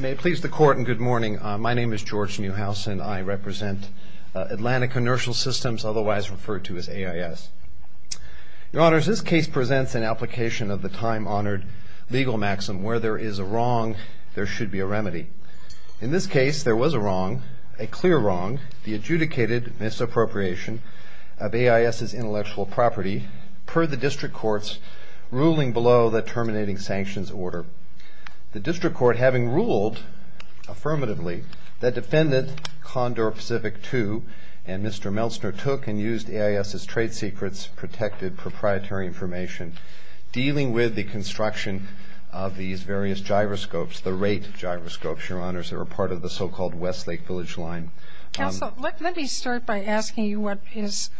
May it please the court and good morning. My name is George Neuhausen. I represent Atlantic Inertial Systems, otherwise referred to as AIS. Your Honors, this case presents an application of the time-honored legal maxim, where there is a wrong, there should be a remedy. In this case, there was a wrong, a clear wrong, the adjudicated misappropriation of AIS's intellectual property, per the district court's ruling below the terminating sanctions order. The district court, having ruled affirmatively, that defendant Condor Pacific II and Mr. Meltzner took and used AIS's trade secrets, protected proprietary information, dealing with the construction of these various gyroscopes, the rate gyroscopes, Your Honors, that were part of the so-called Westlake Village Line. Counsel, let me start by asking you what is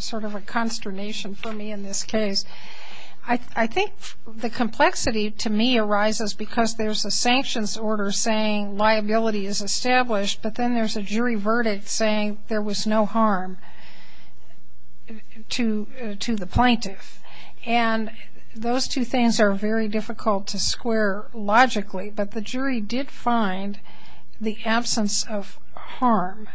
sort of a consternation for me in this case. I think the complexity to me arises because there's a sanctions order saying liability is established, but then there's a jury verdict saying there was no harm to the plaintiff. And those two things are very difficult to square logically, but the jury did find the absence of harm.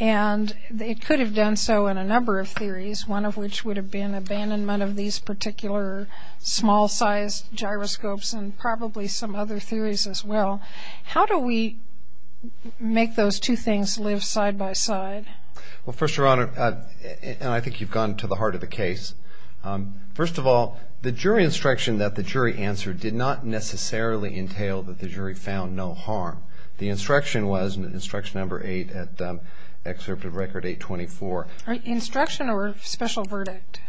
And it could have done so in a number of theories, one of which would have been abandonment of these particular small-sized gyroscopes and probably some other theories as well. How do we make those two things live side by side? Well, first, Your Honor, and I think you've gone to the heart of the case, first of all, the jury instruction that the jury answered did not necessarily entail that the jury found no harm. The instruction was, instruction number eight at Excerpt of Record 824. Instruction or special verdict?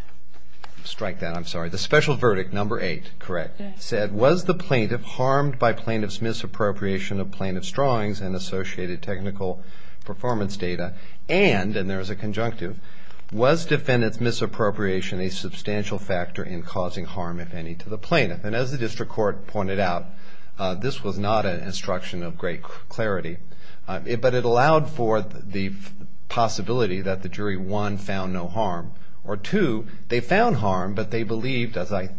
Strike that, I'm sorry. The special verdict, number eight, correct, said, was the plaintiff harmed by plaintiff's misappropriation of plaintiff's drawings and associated technical performance data and, and there is a conjunctive, was defendant's misappropriation a substantial factor in causing harm, if any, to the plaintiff? And as the district court pointed out, this was not an instruction of great clarity, but it allowed for the possibility that the jury, one, found no harm, or two, they found harm, but they believed, as I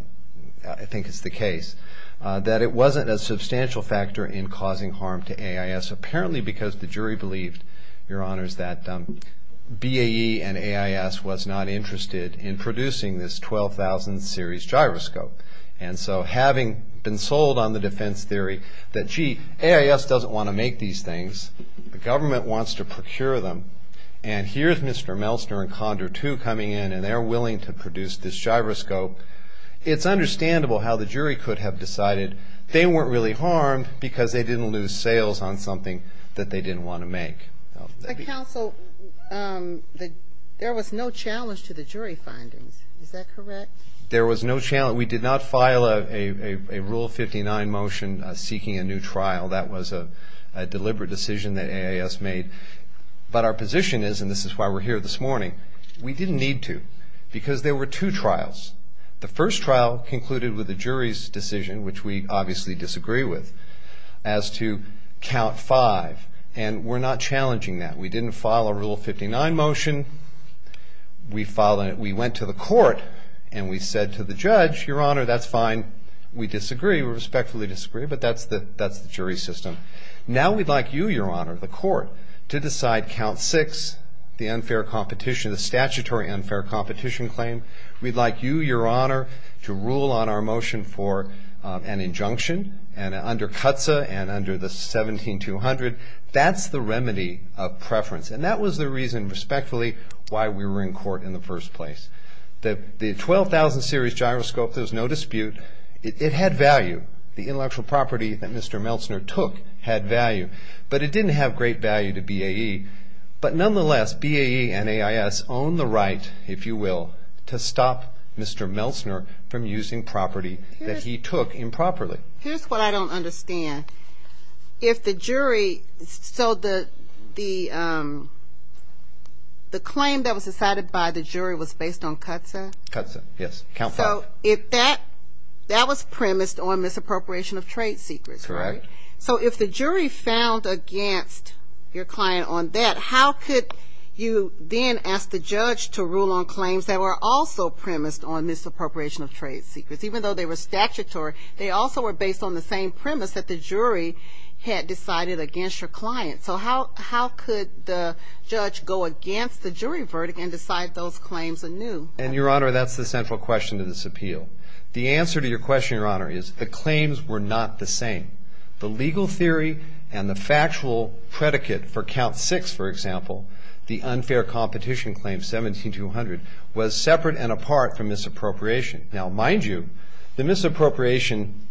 think is the case, that it wasn't a substantial factor in causing harm to AIS, apparently because the jury believed, Your Honors, that BAE and AIS was not interested in producing this 12,000 series gyroscope. And so having been sold on the defense theory that, gee, AIS doesn't want to make these things, the government wants to procure them, and here's Mr. Meltzner and Condor II coming in and they're willing to produce this gyroscope, it's understandable how the jury could have decided they weren't really harmed because they didn't lose sales on something that they didn't want to make. But counsel, there was no challenge to the jury findings, is that correct? There was no challenge. We did not file a Rule 59 motion seeking a new trial. That was a deliberate decision that AIS made. But our position is, and this is why we're here this morning, we didn't need to because there were two trials. The first trial concluded with the jury's decision, which we obviously disagree with, as to count five, and we're not challenging that. We didn't file a Rule 59 motion. We went to the court and we said to the judge, Your Honor, that's fine. We disagree. We respectfully disagree, but that's the jury system. Now we'd like you, Your Honor, the court, to decide count six, the unfair competition, the statutory unfair competition claim. We'd like you, Your Honor, to rule on our motion for an injunction under CUTSA and under the 17-200. That's the remedy of preference. And that was the reason, respectfully, why we were in court in the first place. The 12,000 series gyroscope, there's no dispute. It had value. The intellectual property that Mr. Meltzner took had value. But it didn't have great value to BAE. But nonetheless, BAE and AIS own the right, if you will, to stop Mr. Meltzner from using property that he took improperly. Here's what I don't understand. If the jury so the claim that was decided by the jury was based on CUTSA? CUTSA, yes. Count five. So that was premised on misappropriation of trade secrets, right? Correct. So if the jury found against your client on that, how could you then ask the judge to rule on claims that were also premised on misappropriation of trade secrets? Even though they were statutory, they also were based on the same premise that the jury had decided against your client. So how could the judge go against the jury verdict and decide those claims anew? And, Your Honor, that's the central question to this appeal. The answer to your question, Your Honor, is the claims were not the same. The legal theory and the factual predicate for count six, for example, the unfair competition claim 17-200, was separate and apart from misappropriation. Now, mind you, the misappropriation,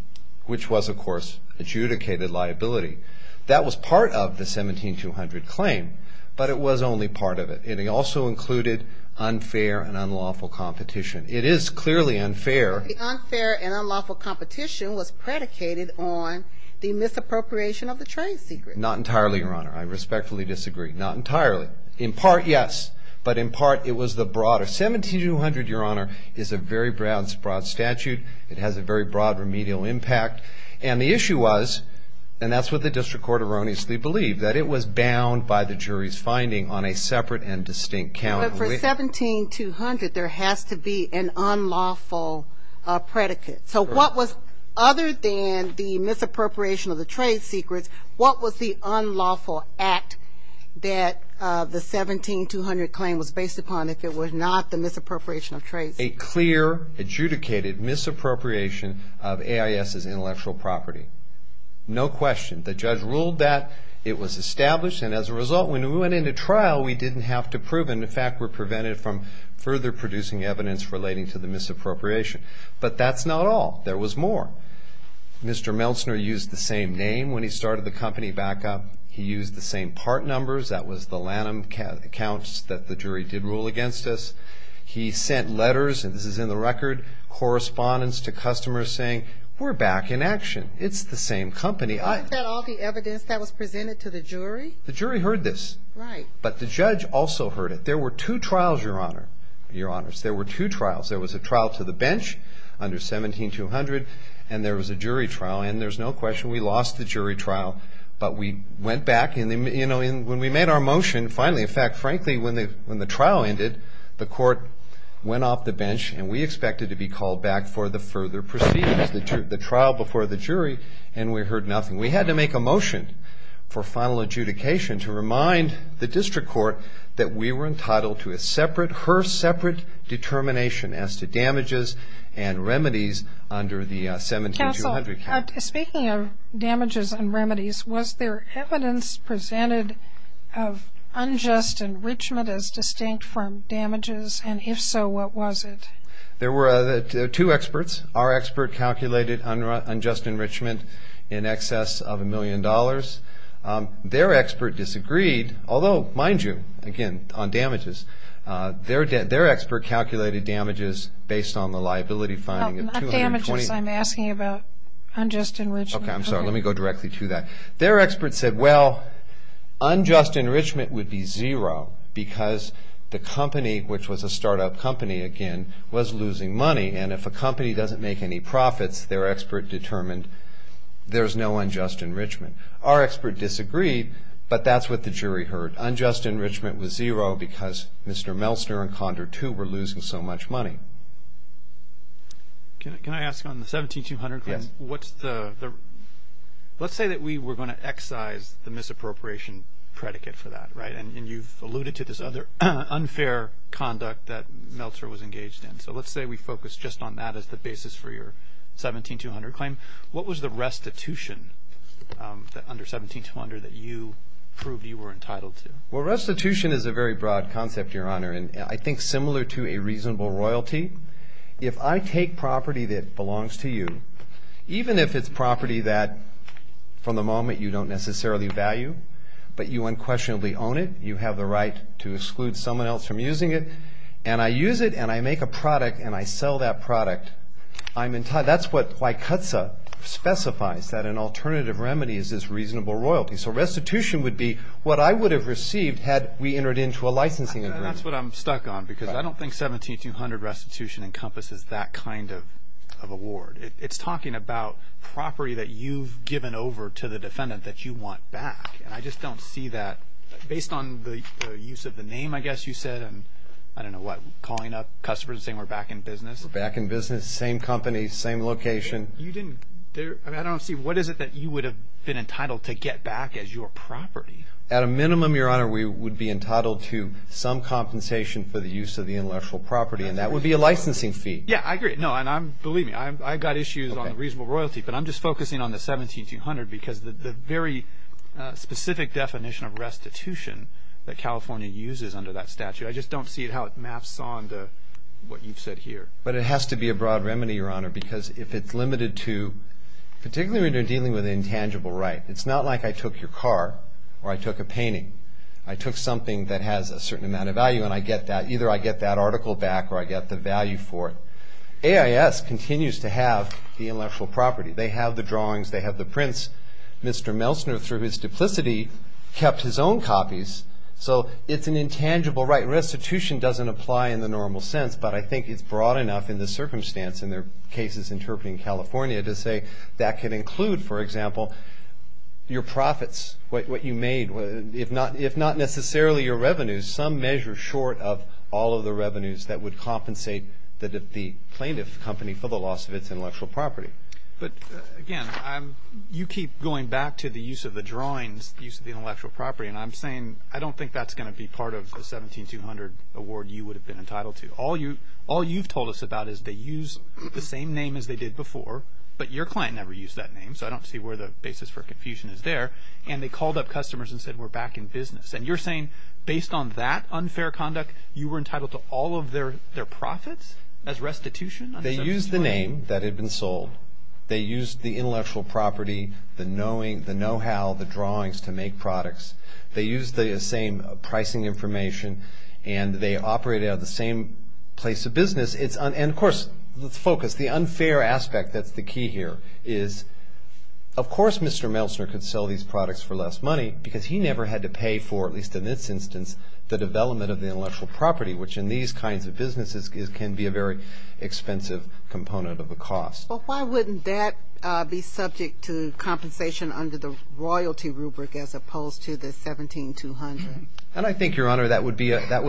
which was, of course, adjudicated liability, that was part of the 17-200 claim, but it was only part of it. It also included unfair and unlawful competition. It is clearly unfair. The unfair and unlawful competition was predicated on the misappropriation of the trade secrets. Not entirely, Your Honor. I respectfully disagree. Not entirely. In part, yes. But in part, it was the broader. 17-200, Your Honor, is a very broad statute. It has a very broad remedial impact. And the issue was, and that's what the district court erroneously believed, that it was bound by the jury's finding on a separate and distinct count. But for 17-200, there has to be an unlawful predicate. So what was, other than the misappropriation of the trade secrets, what was the unlawful act that the 17-200 claim was based upon, if it was not the misappropriation of trade secrets? A clear, adjudicated misappropriation of AIS's intellectual property. No question. The judge ruled that it was established, and as a result, when we went into trial, we didn't have to prove it. In fact, we're prevented from further producing evidence relating to the misappropriation. But that's not all. There was more. Mr. Meltzner used the same name when he started the company back up. He used the same part numbers. That was the Lanham accounts that the jury did rule against us. He sent letters, and this is in the record, correspondence to customers saying, we're back in action. It's the same company. Wasn't that all the evidence that was presented to the jury? The jury heard this. Right. But the judge also heard it. There were two trials, Your Honor, Your Honors. There were two trials. There was a trial to the bench under 17-200, and there was a jury trial. And there's no question we lost the jury trial, but we went back. And, you know, when we made our motion, finally, in fact, frankly, when the trial ended, the court went off the bench, and we expected to be called back for the further proceedings, the trial before the jury, and we heard nothing. We had to make a motion for final adjudication to remind the district court that we were entitled to a separate, her separate determination as to damages and remedies under the 17-200. Counsel, speaking of damages and remedies, was there evidence presented of unjust enrichment as distinct from damages? And if so, what was it? There were two experts. Our expert calculated unjust enrichment in excess of a million dollars. Their expert disagreed, although, mind you, again, on damages, their expert calculated damages based on the liability finding of 220. Oh, not damages. I'm asking about unjust enrichment. Okay, I'm sorry. Let me go directly to that. Their expert said, well, unjust enrichment would be zero because the company, which was a start-up company, again, was losing money, and if a company doesn't make any profits, their expert determined there's no unjust enrichment. Our expert disagreed, but that's what the jury heard. Unjust enrichment was zero because Mr. Meltzer and Condor, too, were losing so much money. Can I ask on the 17-200, please? Yes. Let's say that we were going to excise the misappropriation predicate for that, right? And you've alluded to this other unfair conduct that Meltzer was engaged in. So let's say we focus just on that as the basis for your 17-200 claim. What was the restitution under 17-200 that you proved you were entitled to? Well, restitution is a very broad concept, Your Honor, and I think similar to a reasonable royalty. If I take property that belongs to you, even if it's property that from the moment you don't necessarily value, but you unquestionably own it, you have the right to exclude someone else from using it, and I use it, and I make a product, and I sell that product, that's what Wycutza specifies, that an alternative remedy is this reasonable royalty. So restitution would be what I would have received had we entered into a licensing agreement. That's what I'm stuck on because I don't think 17-200 restitution encompasses that kind of award. It's talking about property that you've given over to the defendant that you want back, and I just don't see that based on the use of the name, I guess you said, and I don't know what, calling up customers and saying we're back in business. We're back in business, same company, same location. I don't see what is it that you would have been entitled to get back as your property. At a minimum, Your Honor, we would be entitled to some compensation for the use of the intellectual property, and that would be a licensing fee. Yeah, I agree. No, and believe me, I've got issues on reasonable royalty, but I'm just focusing on the 17-200 because the very specific definition of restitution that California uses under that statute, I just don't see how it maps on to what you've said here. But it has to be a broad remedy, Your Honor, because if it's limited to, particularly when you're dealing with intangible right, it's not like I took your car or I took a painting. I took something that has a certain amount of value and I get that, either I get that article back or I get the value for it. AIS continues to have the intellectual property. They have the drawings. They have the prints. Mr. Melsner, through his duplicity, kept his own copies. So it's an intangible right. Restitution doesn't apply in the normal sense, but I think it's broad enough in this circumstance in their cases interpreting California to say that can include, for example, your profits, what you made, if not necessarily your revenues, to some measure short of all of the revenues that would compensate the plaintiff company for the loss of its intellectual property. But, again, you keep going back to the use of the drawings, the use of the intellectual property, and I'm saying I don't think that's going to be part of the 17200 award you would have been entitled to. All you've told us about is they use the same name as they did before, but your client never used that name, so I don't see where the basis for confusion is there. And they called up customers and said, we're back in business. And you're saying based on that unfair conduct, you were entitled to all of their profits as restitution? They used the name that had been sold. They used the intellectual property, the know-how, the drawings to make products. They used the same pricing information, and they operated out of the same place of business. And, of course, let's focus. The unfair aspect that's the key here is, of course Mr. Melsner could sell these products for less money because he never had to pay for, at least in this instance, the development of the intellectual property, which in these kinds of businesses can be a very expensive component of the cost. Well, why wouldn't that be subject to compensation under the royalty rubric as opposed to the 17200? And I think, Your Honor, that would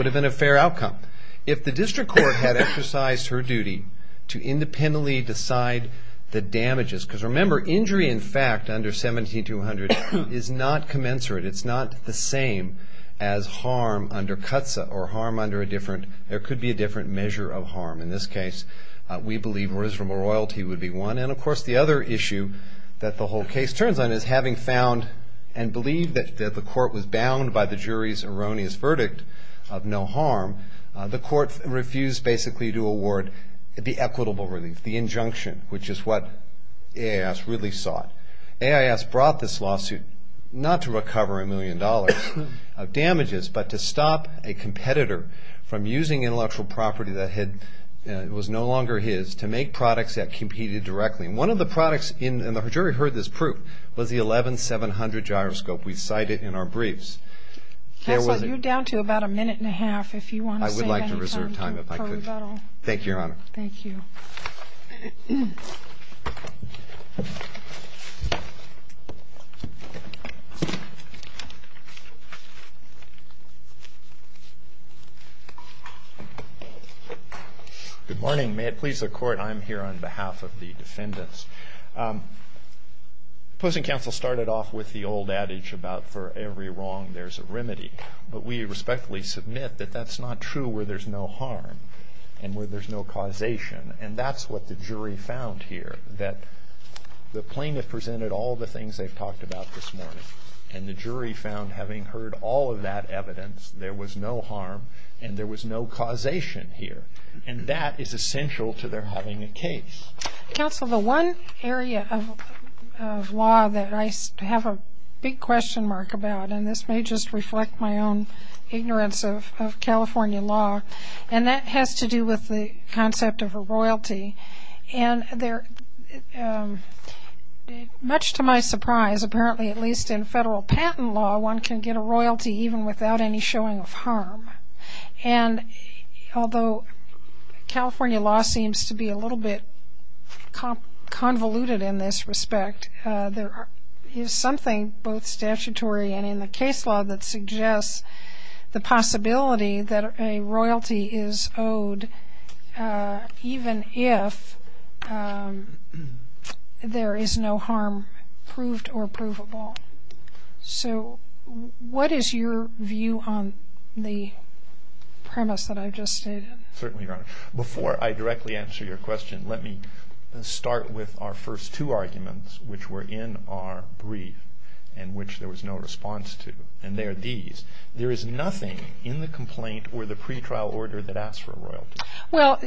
have been a fair outcome. If the district court had exercised her duty to independently decide the damages, because remember, injury in fact under 17200 is not commensurate. It's not the same as harm under CUTSA or harm under a different, there could be a different measure of harm. In this case, we believe reservable royalty would be one. And, of course, the other issue that the whole case turns on is having found and believed that the court was bound by the jury's erroneous verdict of no harm, the court refused basically to award the equitable relief, the injunction, which is what AIS really sought. AIS brought this lawsuit not to recover a million dollars of damages, but to stop a competitor from using intellectual property that was no longer his to make products that competed directly. And one of the products, and the jury heard this proof, was the 11700 gyroscope. We cite it in our briefs. Counsel, you're down to about a minute and a half if you want to save any time for rebuttal. I would like to reserve time if I could. Thank you, Your Honor. Thank you. Good morning. May it please the Court, I am here on behalf of the defendants. The opposing counsel started off with the old adage about for every wrong there's a remedy. But we respectfully submit that that's not true where there's no harm and where there's no causation. And that's what the jury found here, that the plaintiff presented all the things they've talked about this morning. And the jury found, having heard all of that evidence, there was no harm and there was no causation here. And that is essential to their having a case. Counsel, the one area of law that I have a big question mark about, and this may just reflect my own ignorance of California law, and that has to do with the concept of a royalty. And much to my surprise, apparently at least in federal patent law, one can get a royalty even without any showing of harm. And although California law seems to be a little bit convoluted in this respect, there is something both statutory and in the case law that suggests the possibility that a royalty is owed, even if there is no harm proved or provable. So what is your view on the premise that I've just stated? Certainly, Your Honor. Before I directly answer your question, let me start with our first two arguments, which were in our brief and which there was no response to. And they are these. There is nothing in the complaint or the pretrial order that asks for a royalty. Well,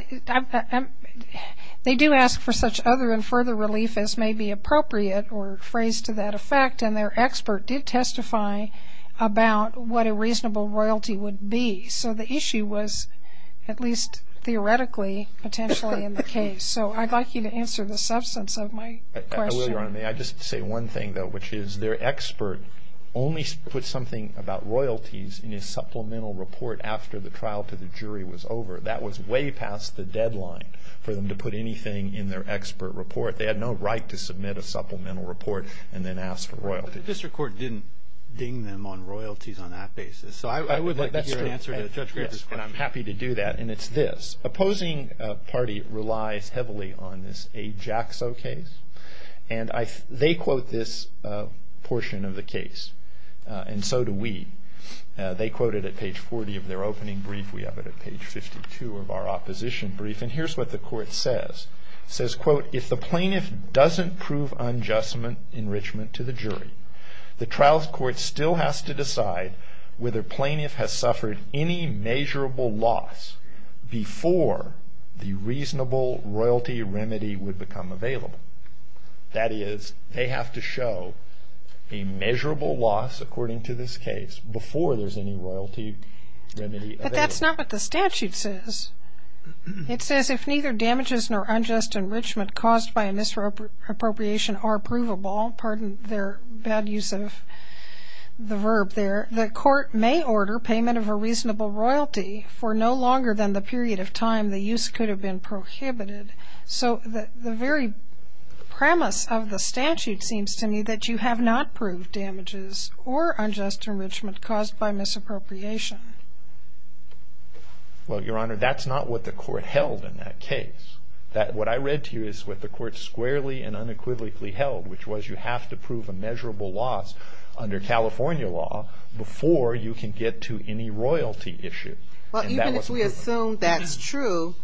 they do ask for such other and further relief as may be appropriate or phrase to that effect. And their expert did testify about what a reasonable royalty would be. So the issue was at least theoretically potentially in the case. So I'd like you to answer the substance of my question. I will, Your Honor. May I just say one thing, though, which is their expert only put something about royalties in his supplemental report after the trial to the jury was over. That was way past the deadline for them to put anything in their expert report. They had no right to submit a supplemental report and then ask for royalties. But the district court didn't ding them on royalties on that basis. So I would like to hear an answer to the judge's question. Yes, and I'm happy to do that. And it's this. Opposing party relies heavily on this Ajaxo case. And they quote this portion of the case, and so do we. They quote it at page 40 of their opening brief. We have it at page 52 of our opposition brief. And here's what the court says. It says, quote, If the plaintiff doesn't prove unjust enrichment to the jury, the trials court still has to decide whether plaintiff has suffered any measurable loss before the reasonable royalty remedy would become available. That is, they have to show a measurable loss, according to this case, before there's any royalty remedy available. But that's not what the statute says. It says, If neither damages nor unjust enrichment caused by a misappropriation are provable, pardon their bad use of the verb there, the court may order payment of a reasonable royalty for no longer than the period of time the use could have been prohibited. So the very premise of the statute seems to me that you have not proved damages or unjust enrichment caused by misappropriation. Well, Your Honor, that's not what the court held in that case. What I read to you is what the court squarely and unequivocally held, which was you have to prove a measurable loss under California law before you can get to any royalty issue. Even if we assume that's true,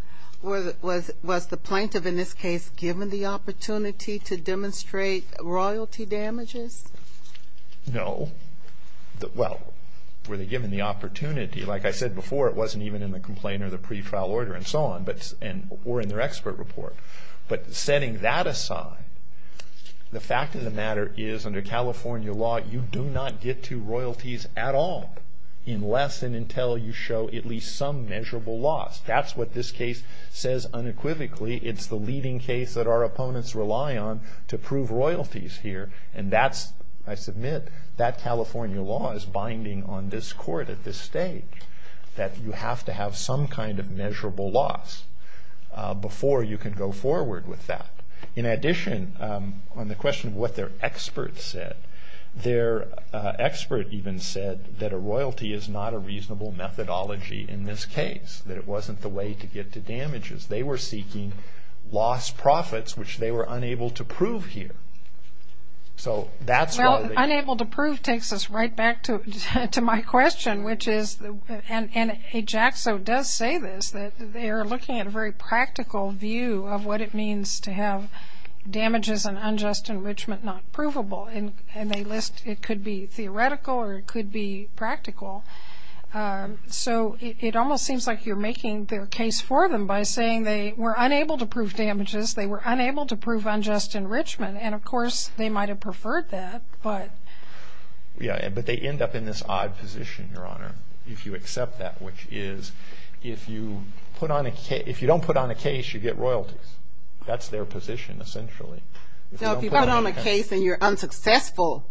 was the plaintiff in this case given the opportunity to demonstrate royalty damages? No. Well, were they given the opportunity? Like I said before, it wasn't even in the complaint or the pre-trial order and so on, or in their expert report. But setting that aside, the fact of the matter is, under California law you do not get to royalties at all unless and until you show at least some measurable loss. That's what this case says unequivocally. It's the leading case that our opponents rely on to prove royalties here. And that's, I submit, that California law is binding on this court at this stage, that you have to have some kind of measurable loss before you can go forward with that. In addition, on the question of what their expert said, their expert even said that a royalty is not a reasonable methodology in this case, that it wasn't the way to get to damages. They were seeking lost profits, which they were unable to prove here. So that's why they... Well, unable to prove takes us right back to my question, which is, and Ajaxo does say this, that they are looking at a very practical view of what it means to have damages and unjust enrichment not provable. And they list it could be theoretical or it could be practical. So it almost seems like you're making the case for them by saying they were unable to prove damages, they were unable to prove unjust enrichment, and of course they might have preferred that, but... Yeah, but they end up in this odd position, Your Honor, if you accept that, which is if you don't put on a case, you get royalties. That's their position, essentially. So if you put on a case and you're unsuccessful,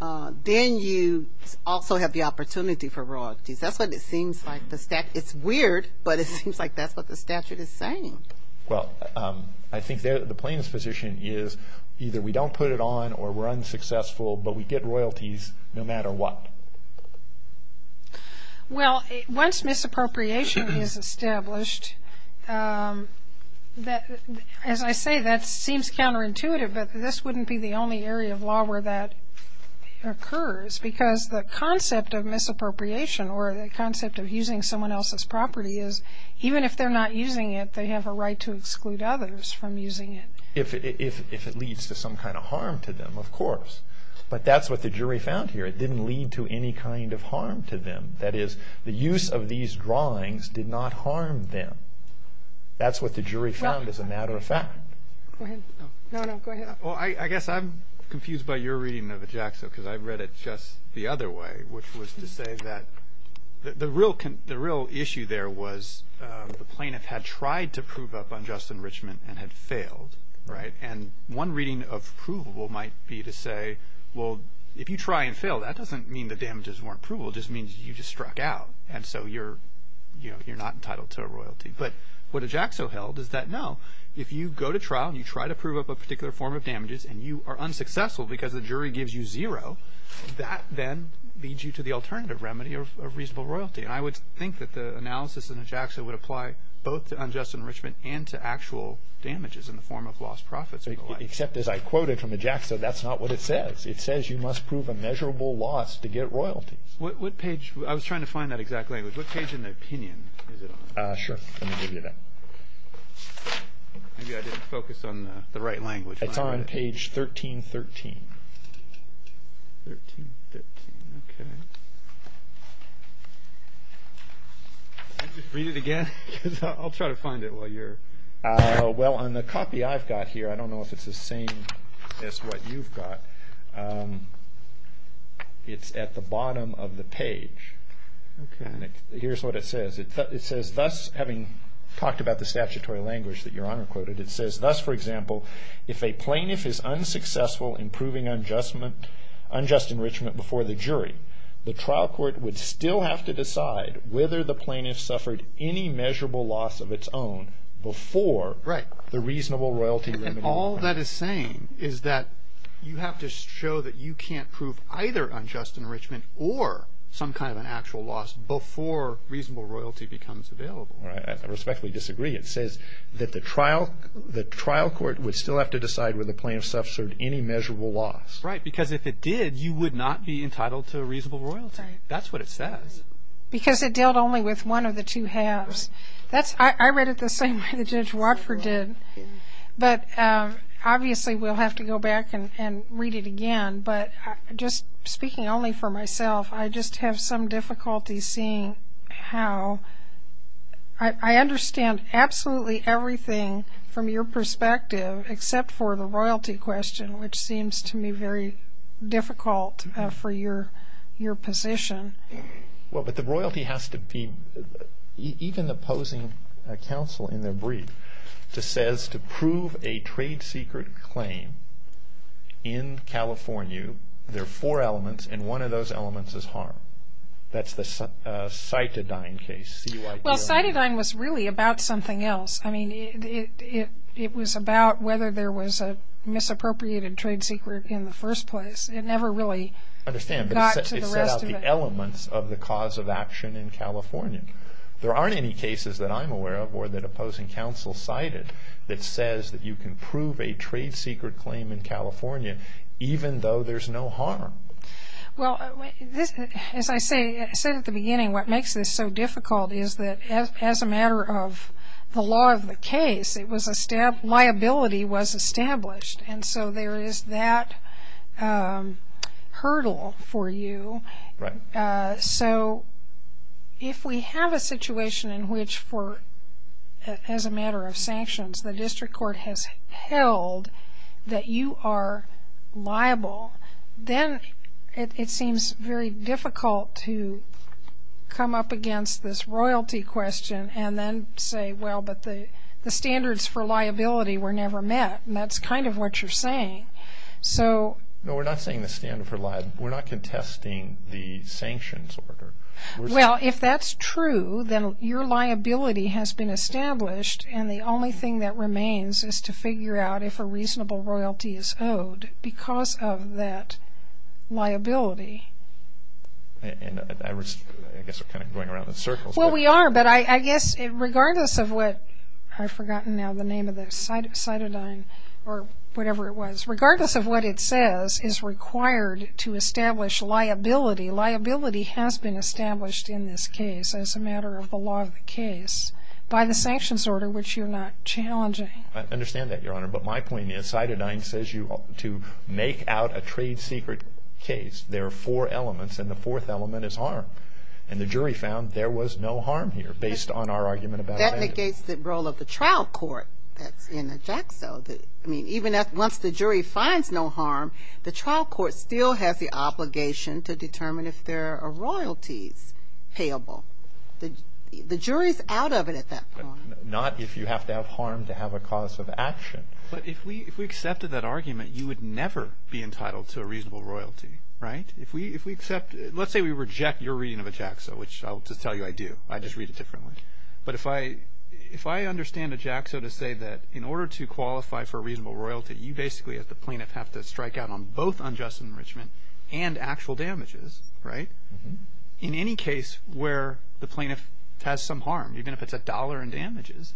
then you also have the opportunity for royalties. That's what it seems like. It's weird, but it seems like that's what the statute is saying. Well, I think the plaintiff's position is either we don't put it on or we're unsuccessful, but we get royalties no matter what. Well, once misappropriation is established, as I say, that seems counterintuitive, but this wouldn't be the only area of law where that occurs because the concept of misappropriation or the concept of using someone else's property is even if they're not using it, they have a right to exclude others from using it. If it leads to some kind of harm to them, of course. But that's what the jury found here. It didn't lead to any kind of harm to them. That is, the use of these drawings did not harm them. That's what the jury found as a matter of fact. I guess I'm confused by your reading of EJACSO because I read it just the other way, which was to say that the real issue there was the plaintiff had tried to prove up unjust enrichment and had failed. One reading of provable might be to say, well, if you try and fail, that doesn't mean the damages weren't provable. It just means you just struck out, and so you're not entitled to a royalty. But what EJACSO held is that, no, if you go to trial and you try to prove up a particular form of damages and you are unsuccessful because the jury gives you zero, that then leads you to the alternative remedy of reasonable royalty. And I would think that the analysis in EJACSO would apply both to unjust enrichment and to actual damages in the form of lost profits and the like. Except, as I quoted from EJACSO, that's not what it says. It says you must prove a measurable loss to get royalties. I was trying to find that exact language. What page in the opinion is it on? Sure, let me give you that. Maybe I didn't focus on the right language. It's on page 1313. Can you read it again? I'll try to find it while you're... Well, on the copy I've got here, I don't know if it's the same as what you've got. It's at the bottom of the page. Here's what it says. It says, thus, having talked about the statutory language that Your Honor quoted, it says, thus, for example, if a plaintiff is unsuccessful in proving unjust enrichment before the jury, the trial court would still have to decide whether the plaintiff suffered any measurable loss of its own before the reasonable royalty remedy. And all that is saying is that you have to show that you can't prove either unjust enrichment or some kind of an actual loss before reasonable royalty becomes available. I respectfully disagree. It says that the trial court would still have to decide whether the plaintiff suffered any measurable loss. Right, because if it did, you would not be entitled to a reasonable royalty. That's what it says. Because it dealt only with one of the two halves. I read it the same way that Judge Watford did. But obviously we'll have to go back and read it again. But just speaking only for myself, I just have some difficulty seeing how I understand absolutely everything from your perspective except for the royalty question, which seems to me very difficult for your position. Well, but the royalty has to be, even the opposing counsel in their brief, says to prove a trade secret claim in California, there are four elements, and one of those elements is harm. That's the Cytodyne case, C-Y-T-O-N-E. Well, Cytodyne was really about something else. I mean, it was about whether there was a misappropriated trade secret in the first place. It never really got to the rest of it. I understand, but it set out the elements of the cause of action in California. There aren't any cases that I'm aware of that opposing counsel cited that says that you can prove a trade secret claim in California even though there's no harm. Well, as I said at the beginning, what makes this so difficult is that as a matter of the law of the case, liability was established, and so there is that hurdle for you. Right. So if we have a situation in which, as a matter of sanctions, the district court has held that you are liable, then it seems very difficult to come up against this royalty question and then say, well, but the standards for liability were never met, and that's kind of what you're saying. No, we're not saying the standards were liable. We're not contesting the sanctions order. Well, if that's true, then your liability has been established, and the only thing that remains is to figure out if a reasonable royalty is owed because of that liability. I guess we're kind of going around in circles. Well, we are, but I guess regardless of what, I've forgotten now the name of the cytidine, or whatever it was, regardless of what it says is required to establish liability. Liability has been established in this case as a matter of the law of the case by the sanctions order, which you're not challenging. I understand that, Your Honor, but my point is cytidine says you ought to make out a trade secret case. There are four elements, and the fourth element is harm, and the jury found there was no harm here based on our argument about abandonment. That negates the role of the trial court that's in the JAXA. I mean, even once the jury finds no harm, the trial court still has the obligation to determine if there are royalties payable. The jury's out of it at that point. Not if you have to have harm to have a cause of action. But if we accepted that argument, you would never be entitled to a reasonable royalty, right? If we accept, let's say we reject your reading of a JAXA, which I'll just tell you I do. I just read it differently. But if I understand a JAXA to say that in order to qualify for a reasonable royalty, you basically as the plaintiff have to strike out on both unjust enrichment and actual damages, right? In any case where the plaintiff has some harm, even if it's a dollar in damages,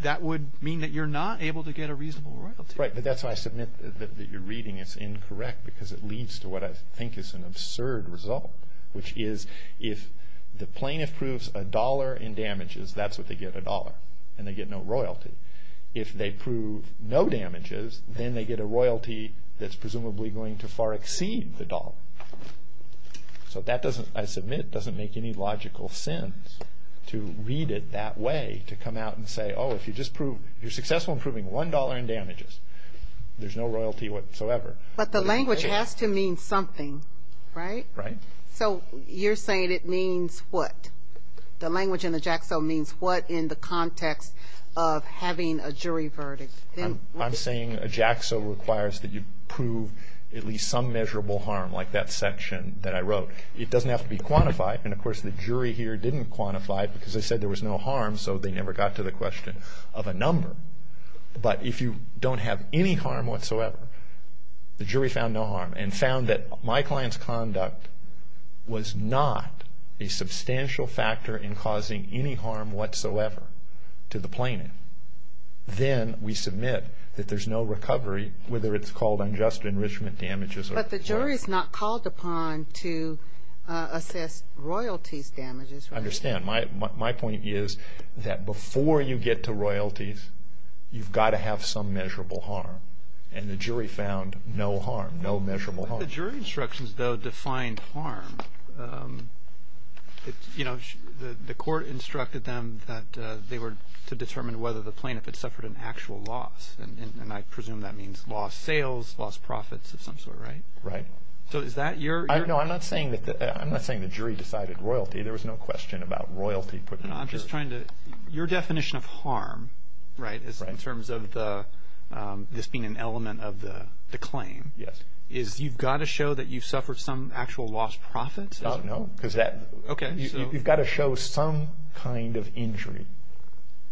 that would mean that you're not able to get a reasonable royalty. Right, but that's why I submit that your reading is incorrect because it leads to what I think is an absurd result, which is if the plaintiff proves a dollar in damages, that's what they get, a dollar, and they get no royalty. If they prove no damages, then they get a royalty that's presumably going to far exceed the dollar. So that doesn't, I submit, doesn't make any logical sense to read it that way, to come out and say, oh, if you're successful in proving one dollar in damages, there's no royalty whatsoever. But the language has to mean something, right? Right. So you're saying it means what? The language in the JAXA means what in the context of having a jury verdict? I'm saying a JAXA requires that you prove at least some measurable harm, like that section that I wrote. It doesn't have to be quantified, and of course the jury here didn't quantify it because they said there was no harm, so they never got to the question of a number. But if you don't have any harm whatsoever, the jury found no harm and found that my client's conduct was not a substantial factor in causing any harm whatsoever to the plaintiff, then we submit that there's no recovery, whether it's called unjust enrichment damages. But the jury's not called upon to assess royalties damages, right? I understand. My point is that before you get to royalties, you've got to have some measurable harm, and the jury found no harm, no measurable harm. The jury instructions, though, define harm. You know, the court instructed them that they were to determine whether the plaintiff had suffered an actual loss, and I presume that means lost sales, lost profits of some sort, right? Right. So is that your... No, I'm not saying the jury decided royalty. There was no question about royalty. I'm just trying to... Your definition of harm, right, in terms of this being an element of the claim, is you've got to show that you've suffered some actual lost profits? Oh, no, because that... Okay, so... You've got to show some kind of injury,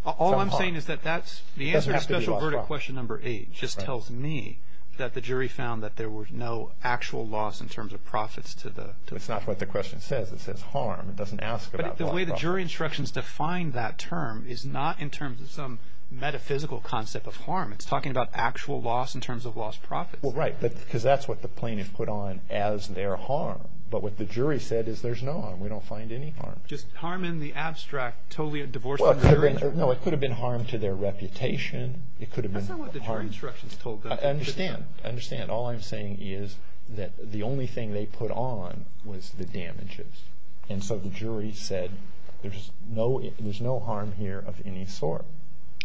some harm. All I'm saying is that that's... It doesn't have to be lost profits. The answer to special verdict question number eight just tells me that the jury found that there was no actual loss in terms of profits to the... It's not what the question says. It says harm. It doesn't ask about lost profits. But the way the jury instructions define that term is not in terms of some metaphysical concept of harm. It's talking about actual loss in terms of lost profits. Well, right, because that's what the plaintiff put on as their harm. But what the jury said is there's no harm. We don't find any harm. Just harm in the abstract, totally divorcing the jury? No, it could have been harm to their reputation. It could have been harm... That's not what the jury instructions told them. I understand. I understand. All I'm saying is that the only thing they put on was the damages. And so the jury said there's no harm here of any sort.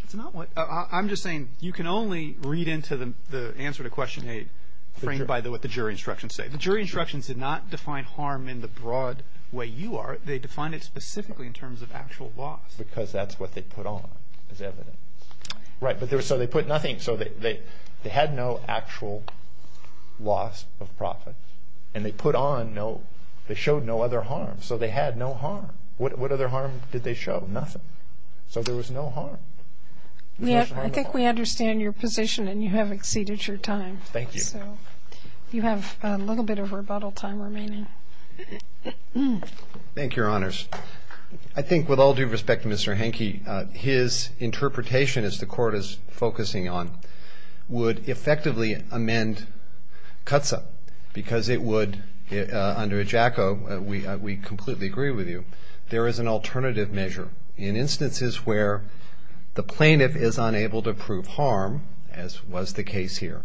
It's not what... I'm just saying you can only read into the answer to question eight framed by what the jury instructions say. The jury instructions did not define harm in the broad way you are. They defined it specifically in terms of actual loss. Because that's what they put on as evidence. Right, so they put nothing. So they had no actual loss of profits. And they put on no... They showed no other harm. So they had no harm. What other harm did they show? Nothing. So there was no harm. I think we understand your position, and you have exceeded your time. Thank you. So you have a little bit of rebuttal time remaining. Thank you, Your Honors. I think with all due respect to Mr. Henke, his interpretation, as the Court is focusing on, would effectively amend CUTSA because it would, under EJACO, we completely agree with you, there is an alternative measure. In instances where the plaintiff is unable to prove harm, as was the case here,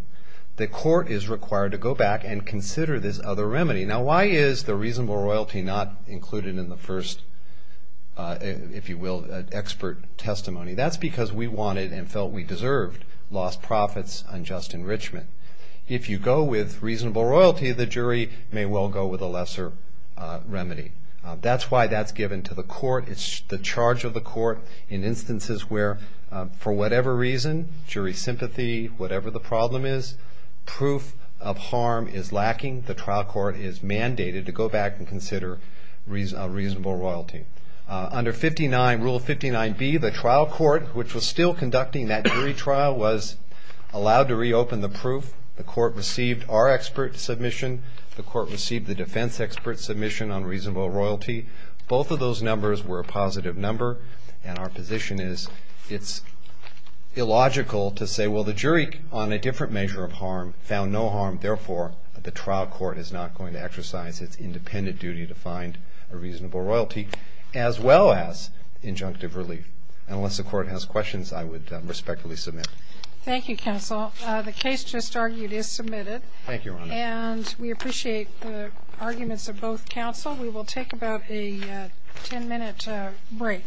the Court is required to go back and consider this other remedy. Now, why is the reasonable royalty not included in the first, if you will, expert testimony? That's because we wanted and felt we deserved lost profits, unjust enrichment. If you go with reasonable royalty, the jury may well go with a lesser remedy. That's why that's given to the Court. It's the charge of the Court in instances where, for whatever reason, jury sympathy, whatever the problem is, proof of harm is lacking. The trial court is mandated to go back and consider reasonable royalty. Under Rule 59B, the trial court, which was still conducting that jury trial, was allowed to reopen the proof. The Court received our expert submission. The Court received the defense expert submission on reasonable royalty. Both of those numbers were a positive number, and our position is it's illogical to say, well, the jury on a different measure of harm found no harm. Therefore, the trial court is not going to exercise its independent duty to find a reasonable royalty, as well as injunctive relief. Unless the Court has questions, I would respectfully submit. Thank you, counsel. The case just argued is submitted. Thank you, Your Honor. And we appreciate the arguments of both counsel. We will take about a ten-minute break.